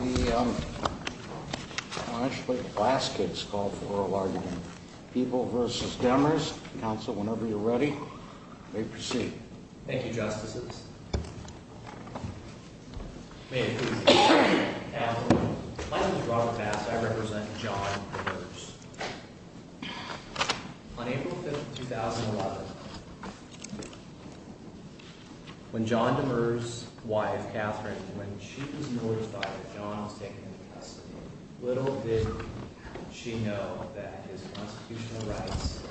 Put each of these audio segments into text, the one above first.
May I just let the class kids call for oral argument. People v. Demers. Council, whenever you're ready, may proceed. Thank you, Justices. May it please the Court. My name is Robert Bass. I represent John Demers. On April 5, 2011, when John Demers' wife, Catherine, when she was notified that John was taken into custody, little did she know that his constitutional rights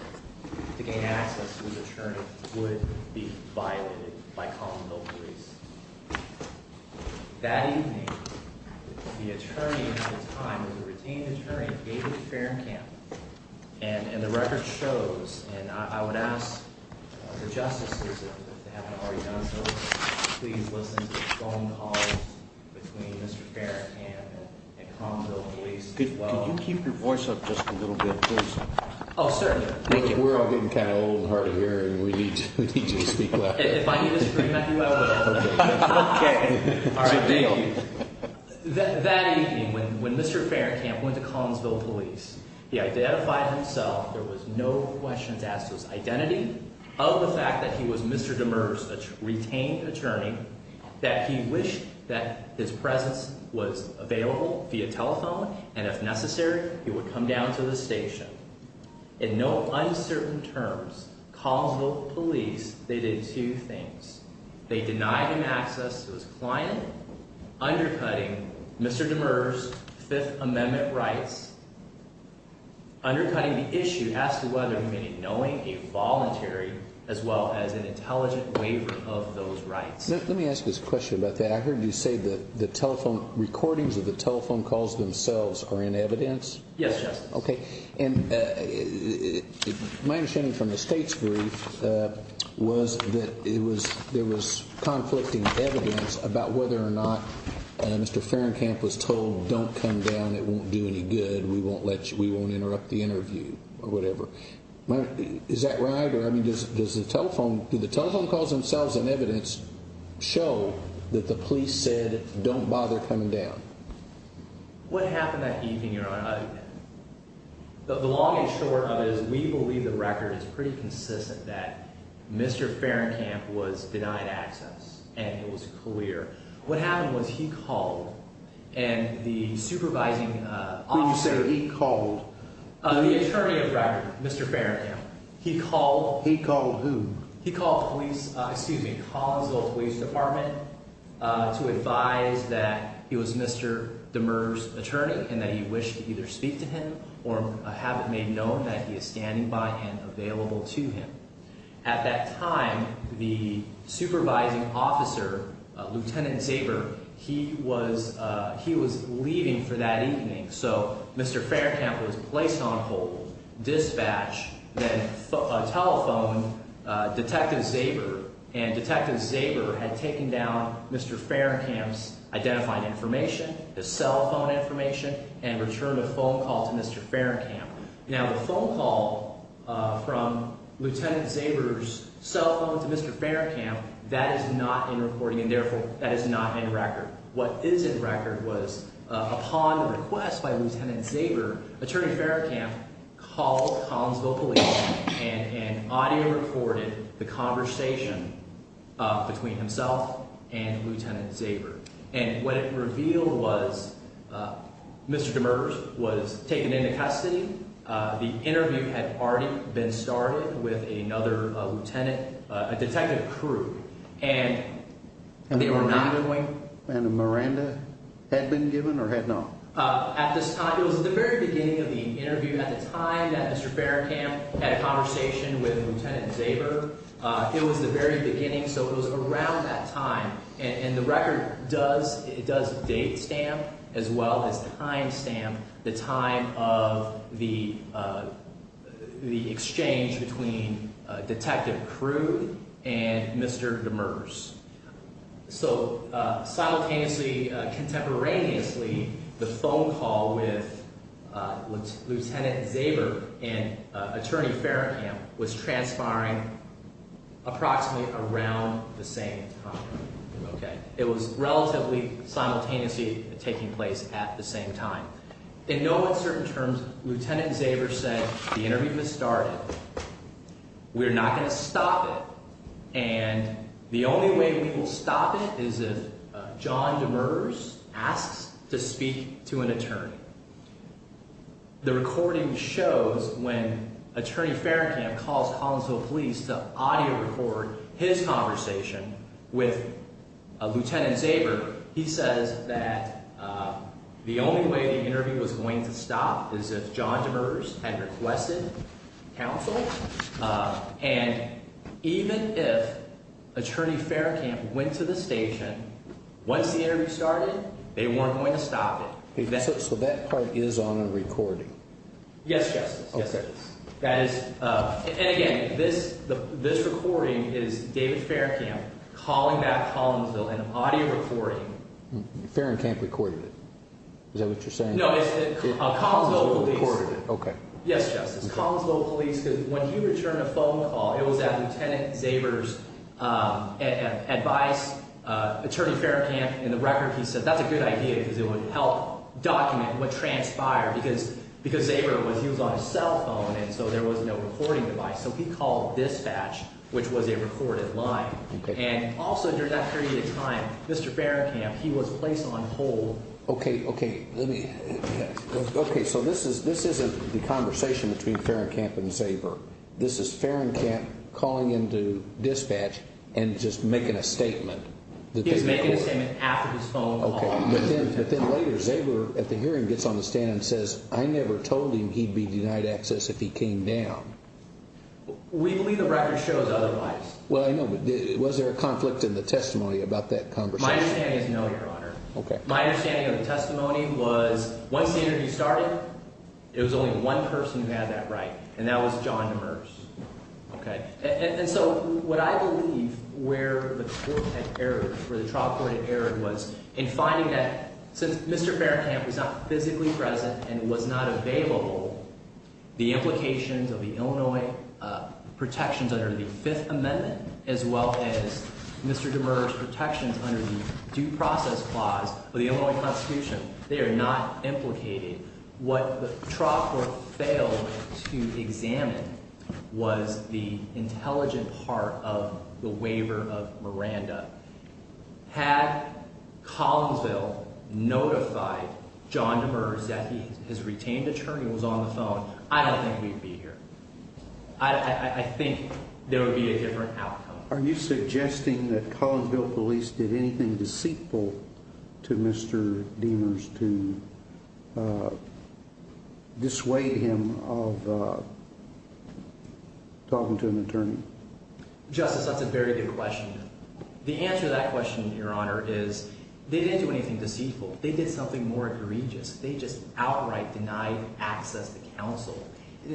to gain access to his attorney would be violated by common law police. That evening, the attorney at the time, the retained attorney, David Ferencamp, and the record shows, and I would ask the Justices, if they haven't already done so, please listen to the phone calls between Mr. Ferencamp and Cromwell Police as well. Could you keep your voice up just a little bit, please? Oh, certainly. Thank you. We're all getting kind of old and hard of hearing. We need to speak louder. If I need to scream at you, I will. They denied him access to his client, undercutting Mr. Demers' Fifth Amendment rights, undercutting the issue as to whether he may be knowing a voluntary as well as an intelligent waiver of those rights. Let me ask this question about that. I heard you say that the telephone recordings of the telephone calls themselves are in evidence? Yes, Justice. Okay. And my understanding from the State's brief was that there was conflicting evidence about whether or not Mr. Ferencamp was told, don't come down, it won't do any good, we won't interrupt the interview, or whatever. Is that right? Or, I mean, does the telephone calls themselves in evidence show that the police said, don't bother coming down? What happened that evening, Your Honor? The long and short of it is we believe the record is pretty consistent that Mr. Ferencamp was denied access, and it was clear. What happened was he called, and the supervising officer… Who did you say he called? The attorney of record, Mr. Ferencamp. He called… He called who? He called police, excuse me, Collinsville Police Department to advise that he was Mr. Demers' attorney and that he wished to either speak to him or have it made known that he is standing by and available to him. At that time, the supervising officer, Lieutenant Zaber, he was leaving for that evening, so Mr. Ferencamp was placed on hold, dispatched, then telephoned Detective Zaber, and Detective Zaber had taken down Mr. Ferencamp's identifying information, his cell phone information, and returned a phone call to Mr. Ferencamp. Now, the phone call from Lieutenant Zaber's cell phone to Mr. Ferencamp, that is not in recording and, therefore, that is not in record. What is in record was upon the request by Lieutenant Zaber, Attorney Ferencamp called Collinsville Police and audio recorded the conversation between himself and Lieutenant Zaber. And what it revealed was Mr. Demers was taken into custody. The interview had already been started with another lieutenant, a detective crew, and they were not… And a Miranda had been given or had not? At this time, it was at the very beginning of the interview at the time that Mr. Ferencamp had a conversation with Lieutenant Zaber. It was the very beginning, so it was around that time, and the record does date stamp as well as time stamp the time of the exchange between Detective Crew and Mr. Demers. So, simultaneously, contemporaneously, the phone call with Lieutenant Zaber and Attorney Ferencamp was transpiring approximately around the same time, okay? It was relatively simultaneously taking place at the same time. In no uncertain terms, Lieutenant Zaber said, the interview has started, we're not going to stop it, and the only way we will stop it is if John Demers asks to speak to an attorney. The recording shows when Attorney Ferencamp calls Collinsville Police to audio record his conversation with Lieutenant Zaber. He says that the only way the interview was going to stop is if John Demers had requested counsel, and even if Attorney Ferencamp went to the station, once the interview started, they weren't going to stop it. So that part is on a recording? Yes, Justice. Okay. And again, this recording is David Ferencamp calling back Collinsville and audio recording. Ferencamp recorded it? Is that what you're saying? No, it's Collinsville Police. Okay. Yes, Justice. Collinsville Police, because when he returned a phone call, it was at Lieutenant Zaber's advice. Attorney Ferencamp, in the record, he said that's a good idea because it would help document what transpired because Zaber, he was on his cell phone, and so there was no recording device. So he called dispatch, which was a recorded line. Okay. And also during that period of time, Mr. Ferencamp, he was placed on hold. Okay, so this isn't the conversation between Ferencamp and Zaber. This is Ferencamp calling into dispatch and just making a statement. He was making a statement after his phone call. But then later, Zaber, at the hearing, gets on the stand and says, I never told him he'd be denied access if he came down. We believe the record shows otherwise. Well, I know, but was there a conflict in the testimony about that conversation? My understanding is no, Your Honor. Okay. My understanding of the testimony was once the interview started, it was only one person who had that right, and that was John Demers. Okay. And so what I believe where the court had error, where the trial court had error was in finding that since Mr. Ferencamp was not physically present and was not available, the implications of the Illinois protections under the Fifth Amendment as well as Mr. Demers' protections under the Due Process Clause of the Illinois Constitution, they are not implicated. What the trial court failed to examine was the intelligent part of the waiver of Miranda. Had Collinsville notified John Demers that his retained attorney was on the phone, I don't think we'd be here. I think there would be a different outcome. Are you suggesting that Collinsville police did anything deceitful to Mr. Demers to dissuade him of talking to an attorney? Justice, that's a very good question. The answer to that question, Your Honor, is they didn't do anything deceitful. They did something more egregious. They just outright denied access to counsel.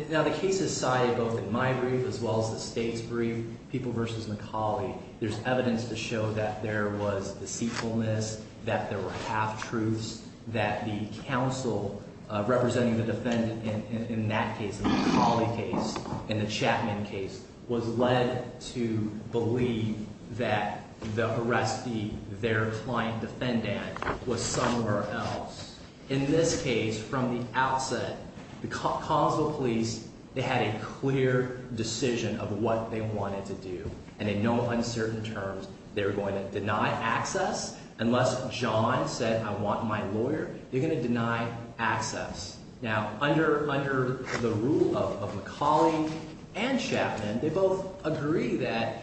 Now, the case is cited both in my brief as well as the State's brief, People v. McCauley. There's evidence to show that there was deceitfulness, that there were half-truths, that the counsel representing the defendant in that case, the McCauley case and the Chapman case, was led to believe that the arrestee, their client defendant, was somewhere else. In this case, from the outset, the Collinsville police, they had a clear decision of what they wanted to do. And in no uncertain terms, they were going to deny access unless John said, I want my lawyer. They're going to deny access. Now, under the rule of McCauley and Chapman, they both agree that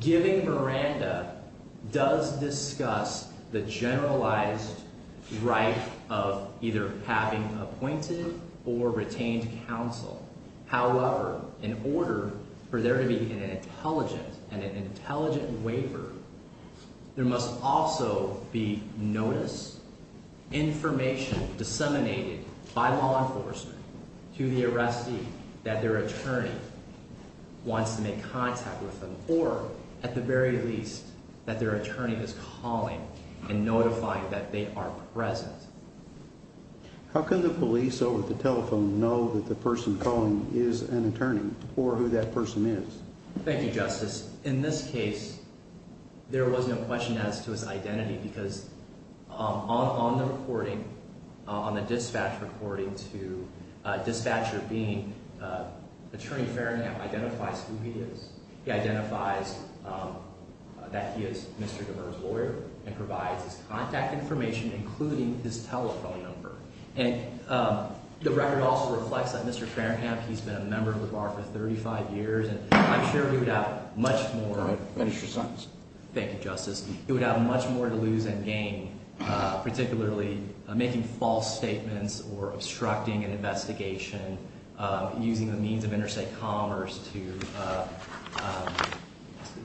giving Miranda does discuss the generalized right of either having appointed or retained counsel. However, in order for there to be an intelligent and an intelligent waiver, there must also be notice, information disseminated by law enforcement to the arrestee that their attorney wants to make contact with them, or, at the very least, that their attorney is calling and notifying that they are present. How can the police over the telephone know that the person calling is an attorney or who that person is? Thank you, Justice. In this case, there was no question as to his identity because on the recording, on the dispatch recording to a dispatcher being Attorney Farringham identifies who he is. He identifies that he is Mr. DeVere's lawyer and provides his contact information, including his telephone number. And the record also reflects that Mr. Farringham, he's been a member of the bar for 35 years, and I'm sure he would have much more. Go ahead. Finish your sentence. Thank you, Justice. It would have much more to lose than gain, particularly making false statements or obstructing an investigation, using the means of interstate commerce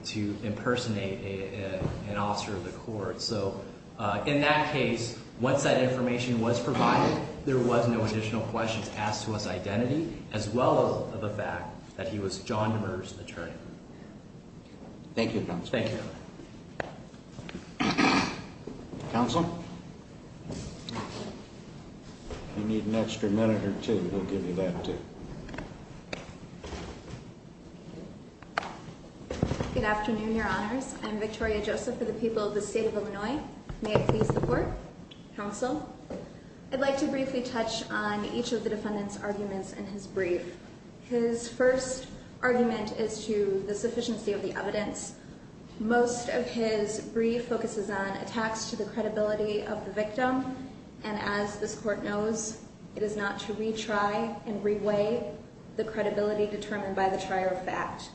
to impersonate an officer of the court. So in that case, once that information was provided, there was no additional questions asked to his identity as well as the fact that he was John DeVere's attorney. Thank you, Justice. Thank you. Counsel. You need an extra minute or two. We'll give you that, too. Good afternoon, Your Honors. I'm Victoria Joseph for the people of the state of Illinois. May I please report? Counsel. I'd like to briefly touch on each of the defendant's arguments in his brief. His first argument is to the sufficiency of the evidence. Most of his brief focuses on attacks to the credibility of the victim, and as this court knows, it is not to retry and reweigh the credibility determined by the trier of fact.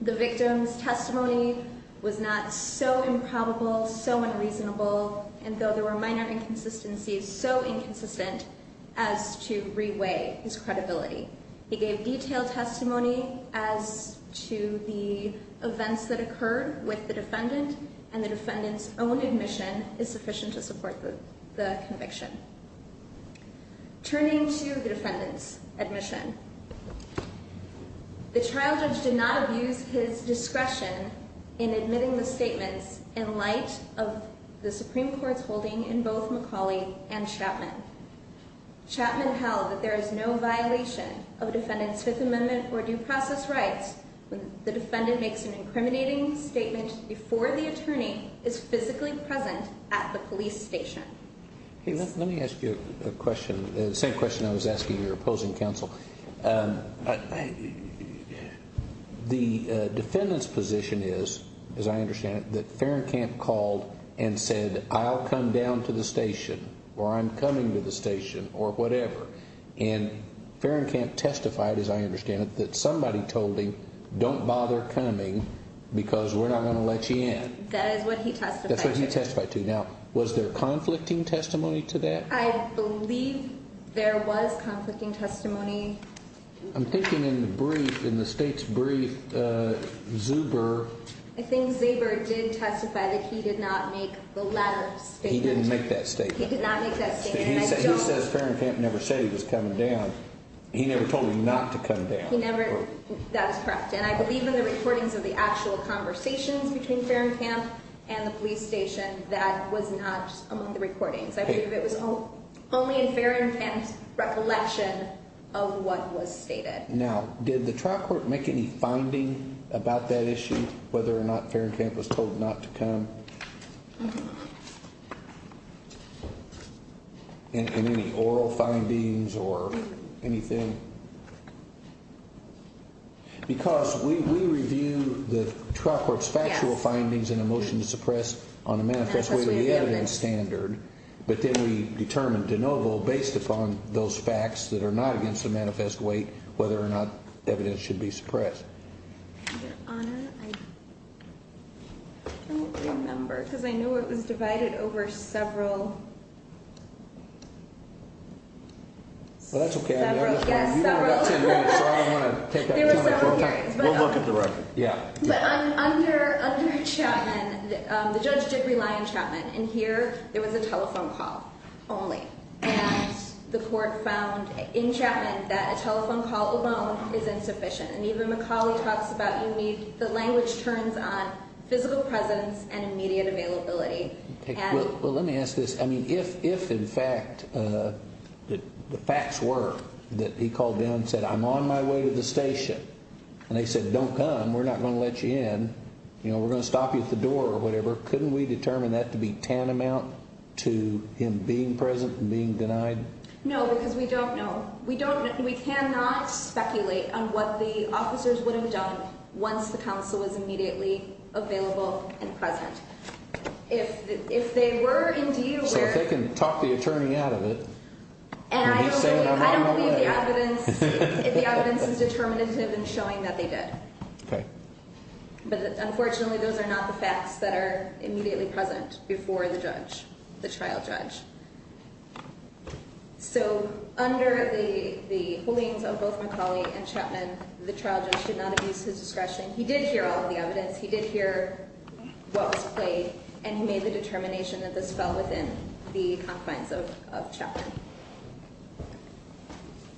The victim's testimony was not so improbable, so unreasonable, and though there were minor inconsistencies, so inconsistent as to reweigh his credibility. He gave detailed testimony as to the events that occurred with the defendant, and the defendant's own admission is sufficient to support the conviction. Turning to the defendant's admission, the trial judge did not abuse his discretion in admitting the statements in light of the Supreme Court's holding in both McCauley and Chapman. Chapman held that there is no violation of the defendant's Fifth Amendment or due process rights when the defendant makes an incriminating statement before the attorney is physically present at the police station. Let me ask you a question, the same question I was asking your opposing counsel. The defendant's position is, as I understand it, that Ferencamp called and said, I'll come down to the station, or I'm coming to the station, or whatever. And Ferencamp testified, as I understand it, that somebody told him, don't bother coming because we're not going to let you in. That is what he testified to. That's what he testified to. Now, was there conflicting testimony to that? I believe there was conflicting testimony. I'm thinking in the brief, in the state's brief, Zuber. I think Zuber did testify that he did not make the latter statement. He didn't make that statement. He did not make that statement. He says Ferencamp never said he was coming down. He never told him not to come down. He never, that is correct. And I believe in the recordings of the actual conversations between Ferencamp and the police station, that was not among the recordings. I believe it was only in Ferencamp's recollection of what was stated. Now, did the trial court make any finding about that issue, whether or not Ferencamp was told not to come? And any oral findings or anything? Because we review the trial court's factual findings in a motion to suppress on a manifest weight of the evidence standard. But then we determine de novo based upon those facts that are not against the manifest weight whether or not evidence should be suppressed. Your Honor, I don't remember because I know it was divided over several. Well, that's okay. There were several hearings. We'll look at the record. But under Chapman, the judge did rely on Chapman. And here there was a telephone call only. And the court found in Chapman that a telephone call alone is insufficient. And even McCauley talks about you need, the language turns on physical presence and immediate availability. Well, let me ask this. I mean, if in fact the facts were that he called down and said, I'm on my way to the station. And they said, don't come. We're not going to let you in. We're going to stop you at the door or whatever. Couldn't we determine that to be tantamount to him being present and being denied? No, because we don't know. We cannot speculate on what the officers would have done once the counsel was immediately available and present. If they were indeed aware. So if they can talk the attorney out of it. And I don't believe the evidence is determinative in showing that they did. Okay. But unfortunately, those are not the facts that are immediately present before the judge, the trial judge. So under the holdings of both McCauley and Chapman, the trial judge did not abuse his discretion. He did hear all of the evidence. He did hear what was played. And he made the determination that this fell within the confines of Chapman.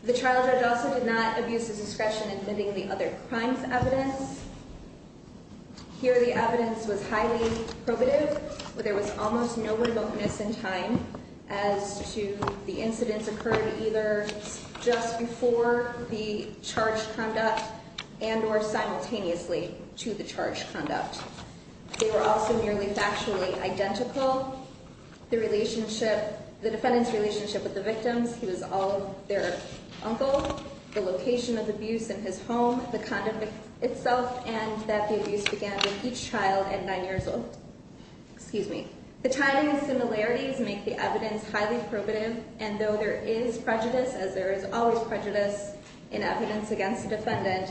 The trial judge also did not abuse his discretion in admitting the other crimes evidence. Here the evidence was highly probative. There was almost no remoteness in time as to the incidents occurred either just before the charged conduct and or simultaneously to the charged conduct. They were also nearly factually identical. The relationship, the defendant's relationship with the victims. He was all their uncle. The location of abuse in his home. The conduct itself. And that the abuse began with each child at nine years old. Excuse me. The timing and similarities make the evidence highly probative. And though there is prejudice, as there is always prejudice in evidence against the defendant,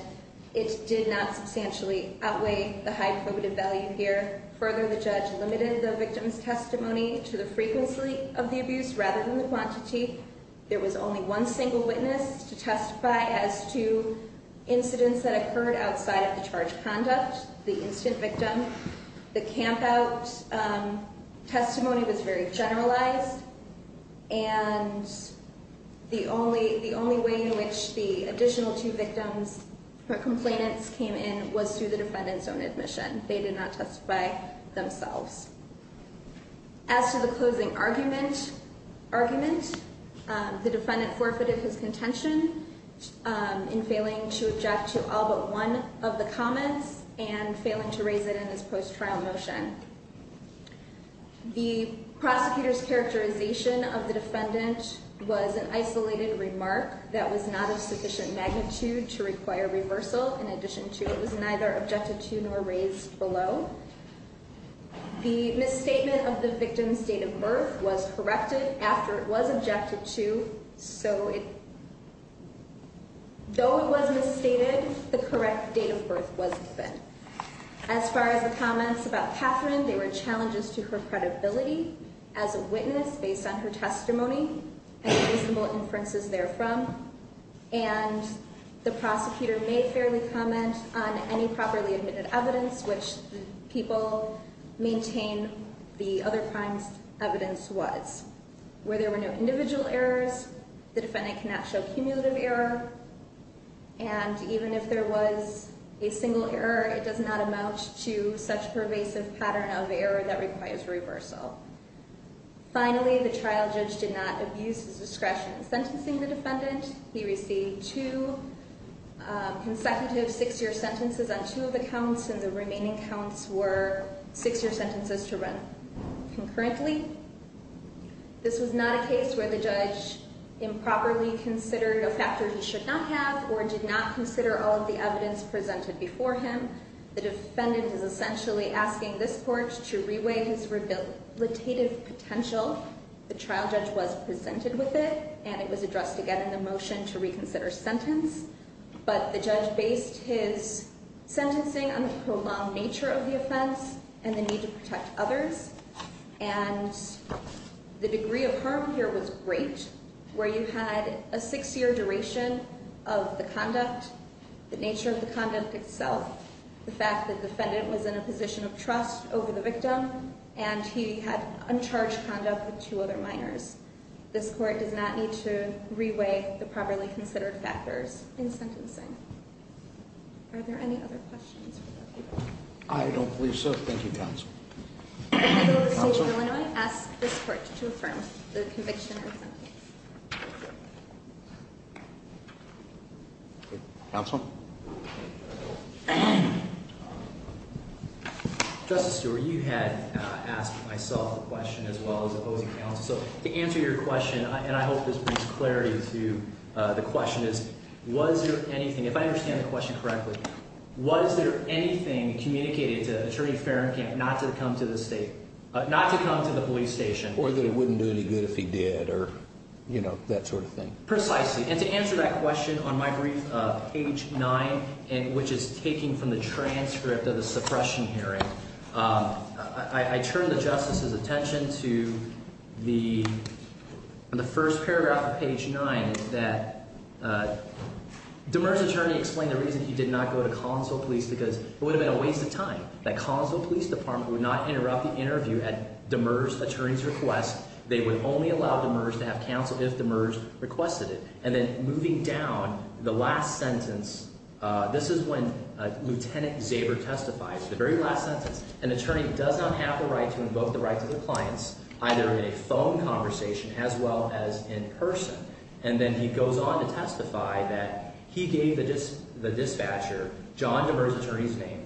it did not substantially outweigh the high probative value here. Further, the judge limited the victim's testimony to the frequency of the abuse rather than the quantity. There was only one single witness to testify as to incidents that occurred outside of the charged conduct, the incident victim. The camp out testimony was very generalized. And the only way in which the additional two victims, the complainants came in was through the defendant's own admission. They did not testify themselves. As to the closing argument, the defendant forfeited his contention in failing to object to all but one of the comments. And failing to raise it in his post-trial motion. The prosecutor's characterization of the defendant was an isolated remark that was not of sufficient magnitude to require reversal. In addition to, it was neither objected to nor raised below. The misstatement of the victim's date of birth was corrected after it was objected to. So it, though it was misstated, the correct date of birth was given. As far as the comments about Catherine, there were challenges to her credibility as a witness based on her testimony and reasonable inferences therefrom. And the prosecutor may fairly comment on any properly admitted evidence which the people maintain the other crimes evidence was. Where there were no individual errors, the defendant cannot show cumulative error. And even if there was a single error, it does not amount to such pervasive pattern of error that requires reversal. Finally, the trial judge did not abuse his discretion in sentencing the defendant. He received two consecutive six-year sentences on two of the counts. And the remaining counts were six-year sentences to run concurrently. This was not a case where the judge improperly considered a factor he should not have or did not consider all of the evidence presented before him. The defendant is essentially asking this court to reweigh his rehabilitative potential. The trial judge was presented with it, and it was addressed again in the motion to reconsider sentence. But the judge based his sentencing on the prolonged nature of the offense and the need to protect others. And the degree of harm here was great, where you had a six-year duration of the conduct, the nature of the conduct itself, the fact that the defendant was in a position of trust over the victim. And he had uncharged conduct with two other minors. This court does not need to reweigh the properly considered factors in sentencing. Are there any other questions? I don't believe so. Thank you, counsel. I move that the state of Illinois ask this court to affirm the conviction and sentence. Counsel? Justice Stewart, you had asked myself the question as well as opposing counsel. So to answer your question, and I hope this brings clarity to the question, is was there anything, if I understand the question correctly, was there anything communicated to Attorney Farrenkamp not to come to the police station? Or that it wouldn't do any good if he did or, you know, that sort of thing. Precisely. And to answer that question on my brief, page 9, which is taking from the transcript of the suppression hearing, I turn the justice's attention to the first paragraph of page 9 that Demers' attorney explained the reason he did not go to Collinsville Police because it would have been a waste of time. That Collinsville Police Department would not interrupt the interview at Demers' attorney's request. They would only allow Demers to have counsel if Demers requested it. And then moving down, the last sentence, this is when Lieutenant Zaber testifies. The very last sentence. An attorney does not have the right to invoke the right to their clients either in a phone conversation as well as in person. And then he goes on to testify that he gave the dispatcher John Demers' attorney's name,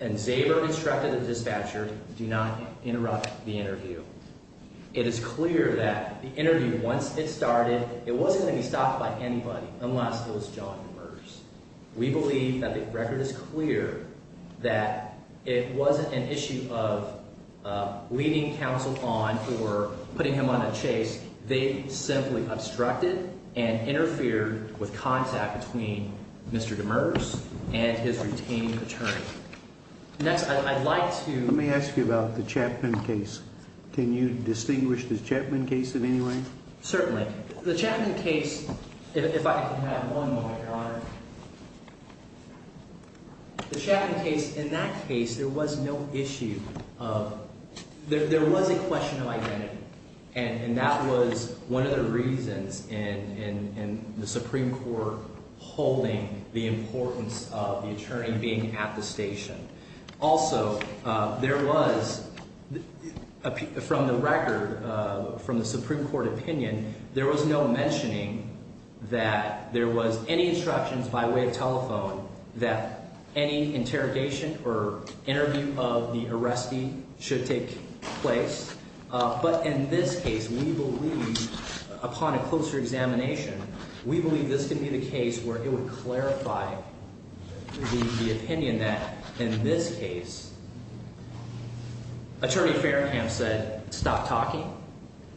and Zaber instructed the dispatcher do not interrupt the interview. It is clear that the interview, once it started, it wasn't going to be stopped by anybody unless it was John Demers. We believe that the record is clear that it wasn't an issue of leading counsel on or putting him on a chase. They simply obstructed and interfered with contact between Mr. Demers and his retaining attorney. Next, I'd like to… Let me ask you about the Chapman case. Can you distinguish the Chapman case in any way? Certainly. The Chapman case, if I could have one moment, Your Honor. The Chapman case, in that case, there was no issue of… There was a question of identity, and that was one of the reasons in the Supreme Court holding the importance of the attorney being at the station. Also, there was, from the record, from the Supreme Court opinion, there was no mentioning that there was any instructions by way of telephone that any interrogation or interview of the arrestee should take place. But in this case, we believe, upon a closer examination, we believe this can be the case where it would clarify the opinion that in this case, attorney Farringham said, stop talking.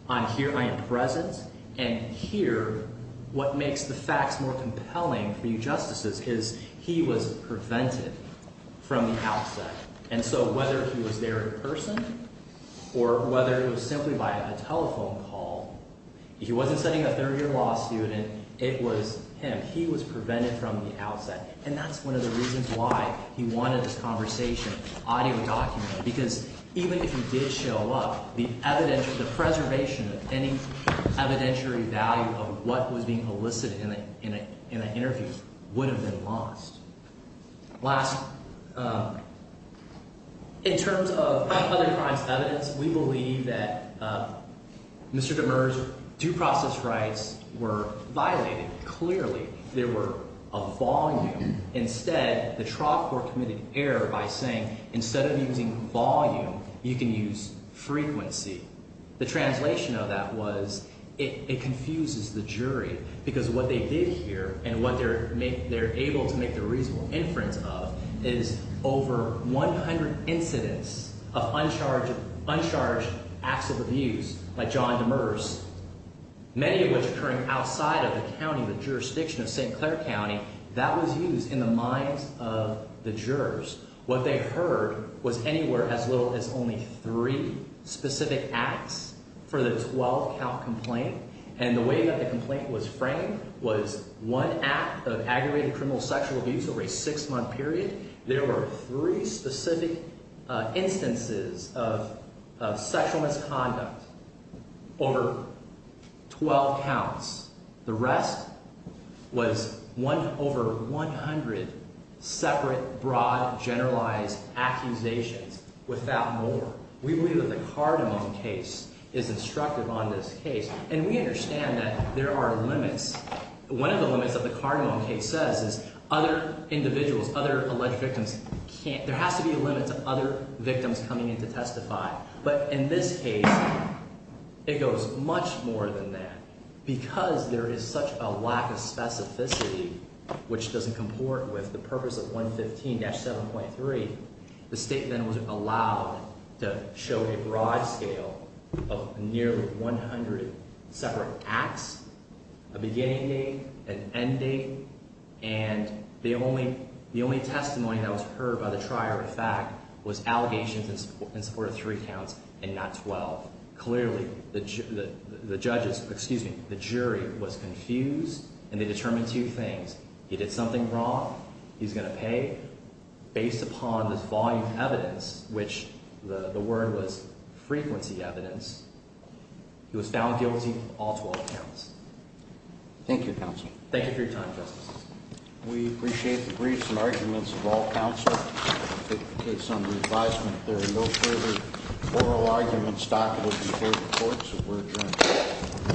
I'm here. I am present. And here, what makes the facts more compelling for you justices is he was prevented from the outset. And so whether he was there in person or whether it was simply by a telephone call, he wasn't sending a third-year law student. It was him. He was prevented from the outset, and that's one of the reasons why he wanted this conversation audio documented, because even if he did show up, the evidential – the preservation of any evidentiary value of what was being elicited in an interview would have been lost. Last – in terms of other crimes evidence, we believe that Mr. Demers' due process rights were violated. Clearly, there were a volume. Instead, the trial court committed error by saying instead of using volume, you can use frequency. The translation of that was it confuses the jury because what they did here and what they're able to make the reasonable inference of is over 100 incidents of uncharged acts of abuse by John Demers, many of which occurring outside of the county, the jurisdiction of St. Clair County. That was used in the minds of the jurors. What they heard was anywhere as little as only three specific acts for the 12-count complaint, and the way that the complaint was framed was one act of aggravated criminal sexual abuse over a six-month period. There were three specific instances of sexual misconduct over 12 counts. The rest was over 100 separate, broad, generalized accusations without more. We believe that the Cardamom case is instructive on this case, and we understand that there are limits. One of the limits of the Cardamom case says is other individuals, other alleged victims can't – there has to be a limit to other victims coming in to testify. But in this case, it goes much more than that because there is such a lack of specificity, which doesn't comport with the purpose of 115-7.3. The statement was allowed to show a broad scale of nearly 100 separate acts, a beginning date, an end date, and the only testimony that was heard by the trier of fact was allegations in support of three counts and not 12. Clearly, the judges – excuse me, the jury was confused, and they determined two things. He did something wrong. He's going to pay. Based upon this volume of evidence, which the word was frequency evidence, he was found guilty of all 12 counts. Thank you, Counsel. Thank you for your time, Justice. We appreciate the briefs and arguments of all counsel. If the case under advisement, there are no further oral arguments documented before the courts, we're adjourned.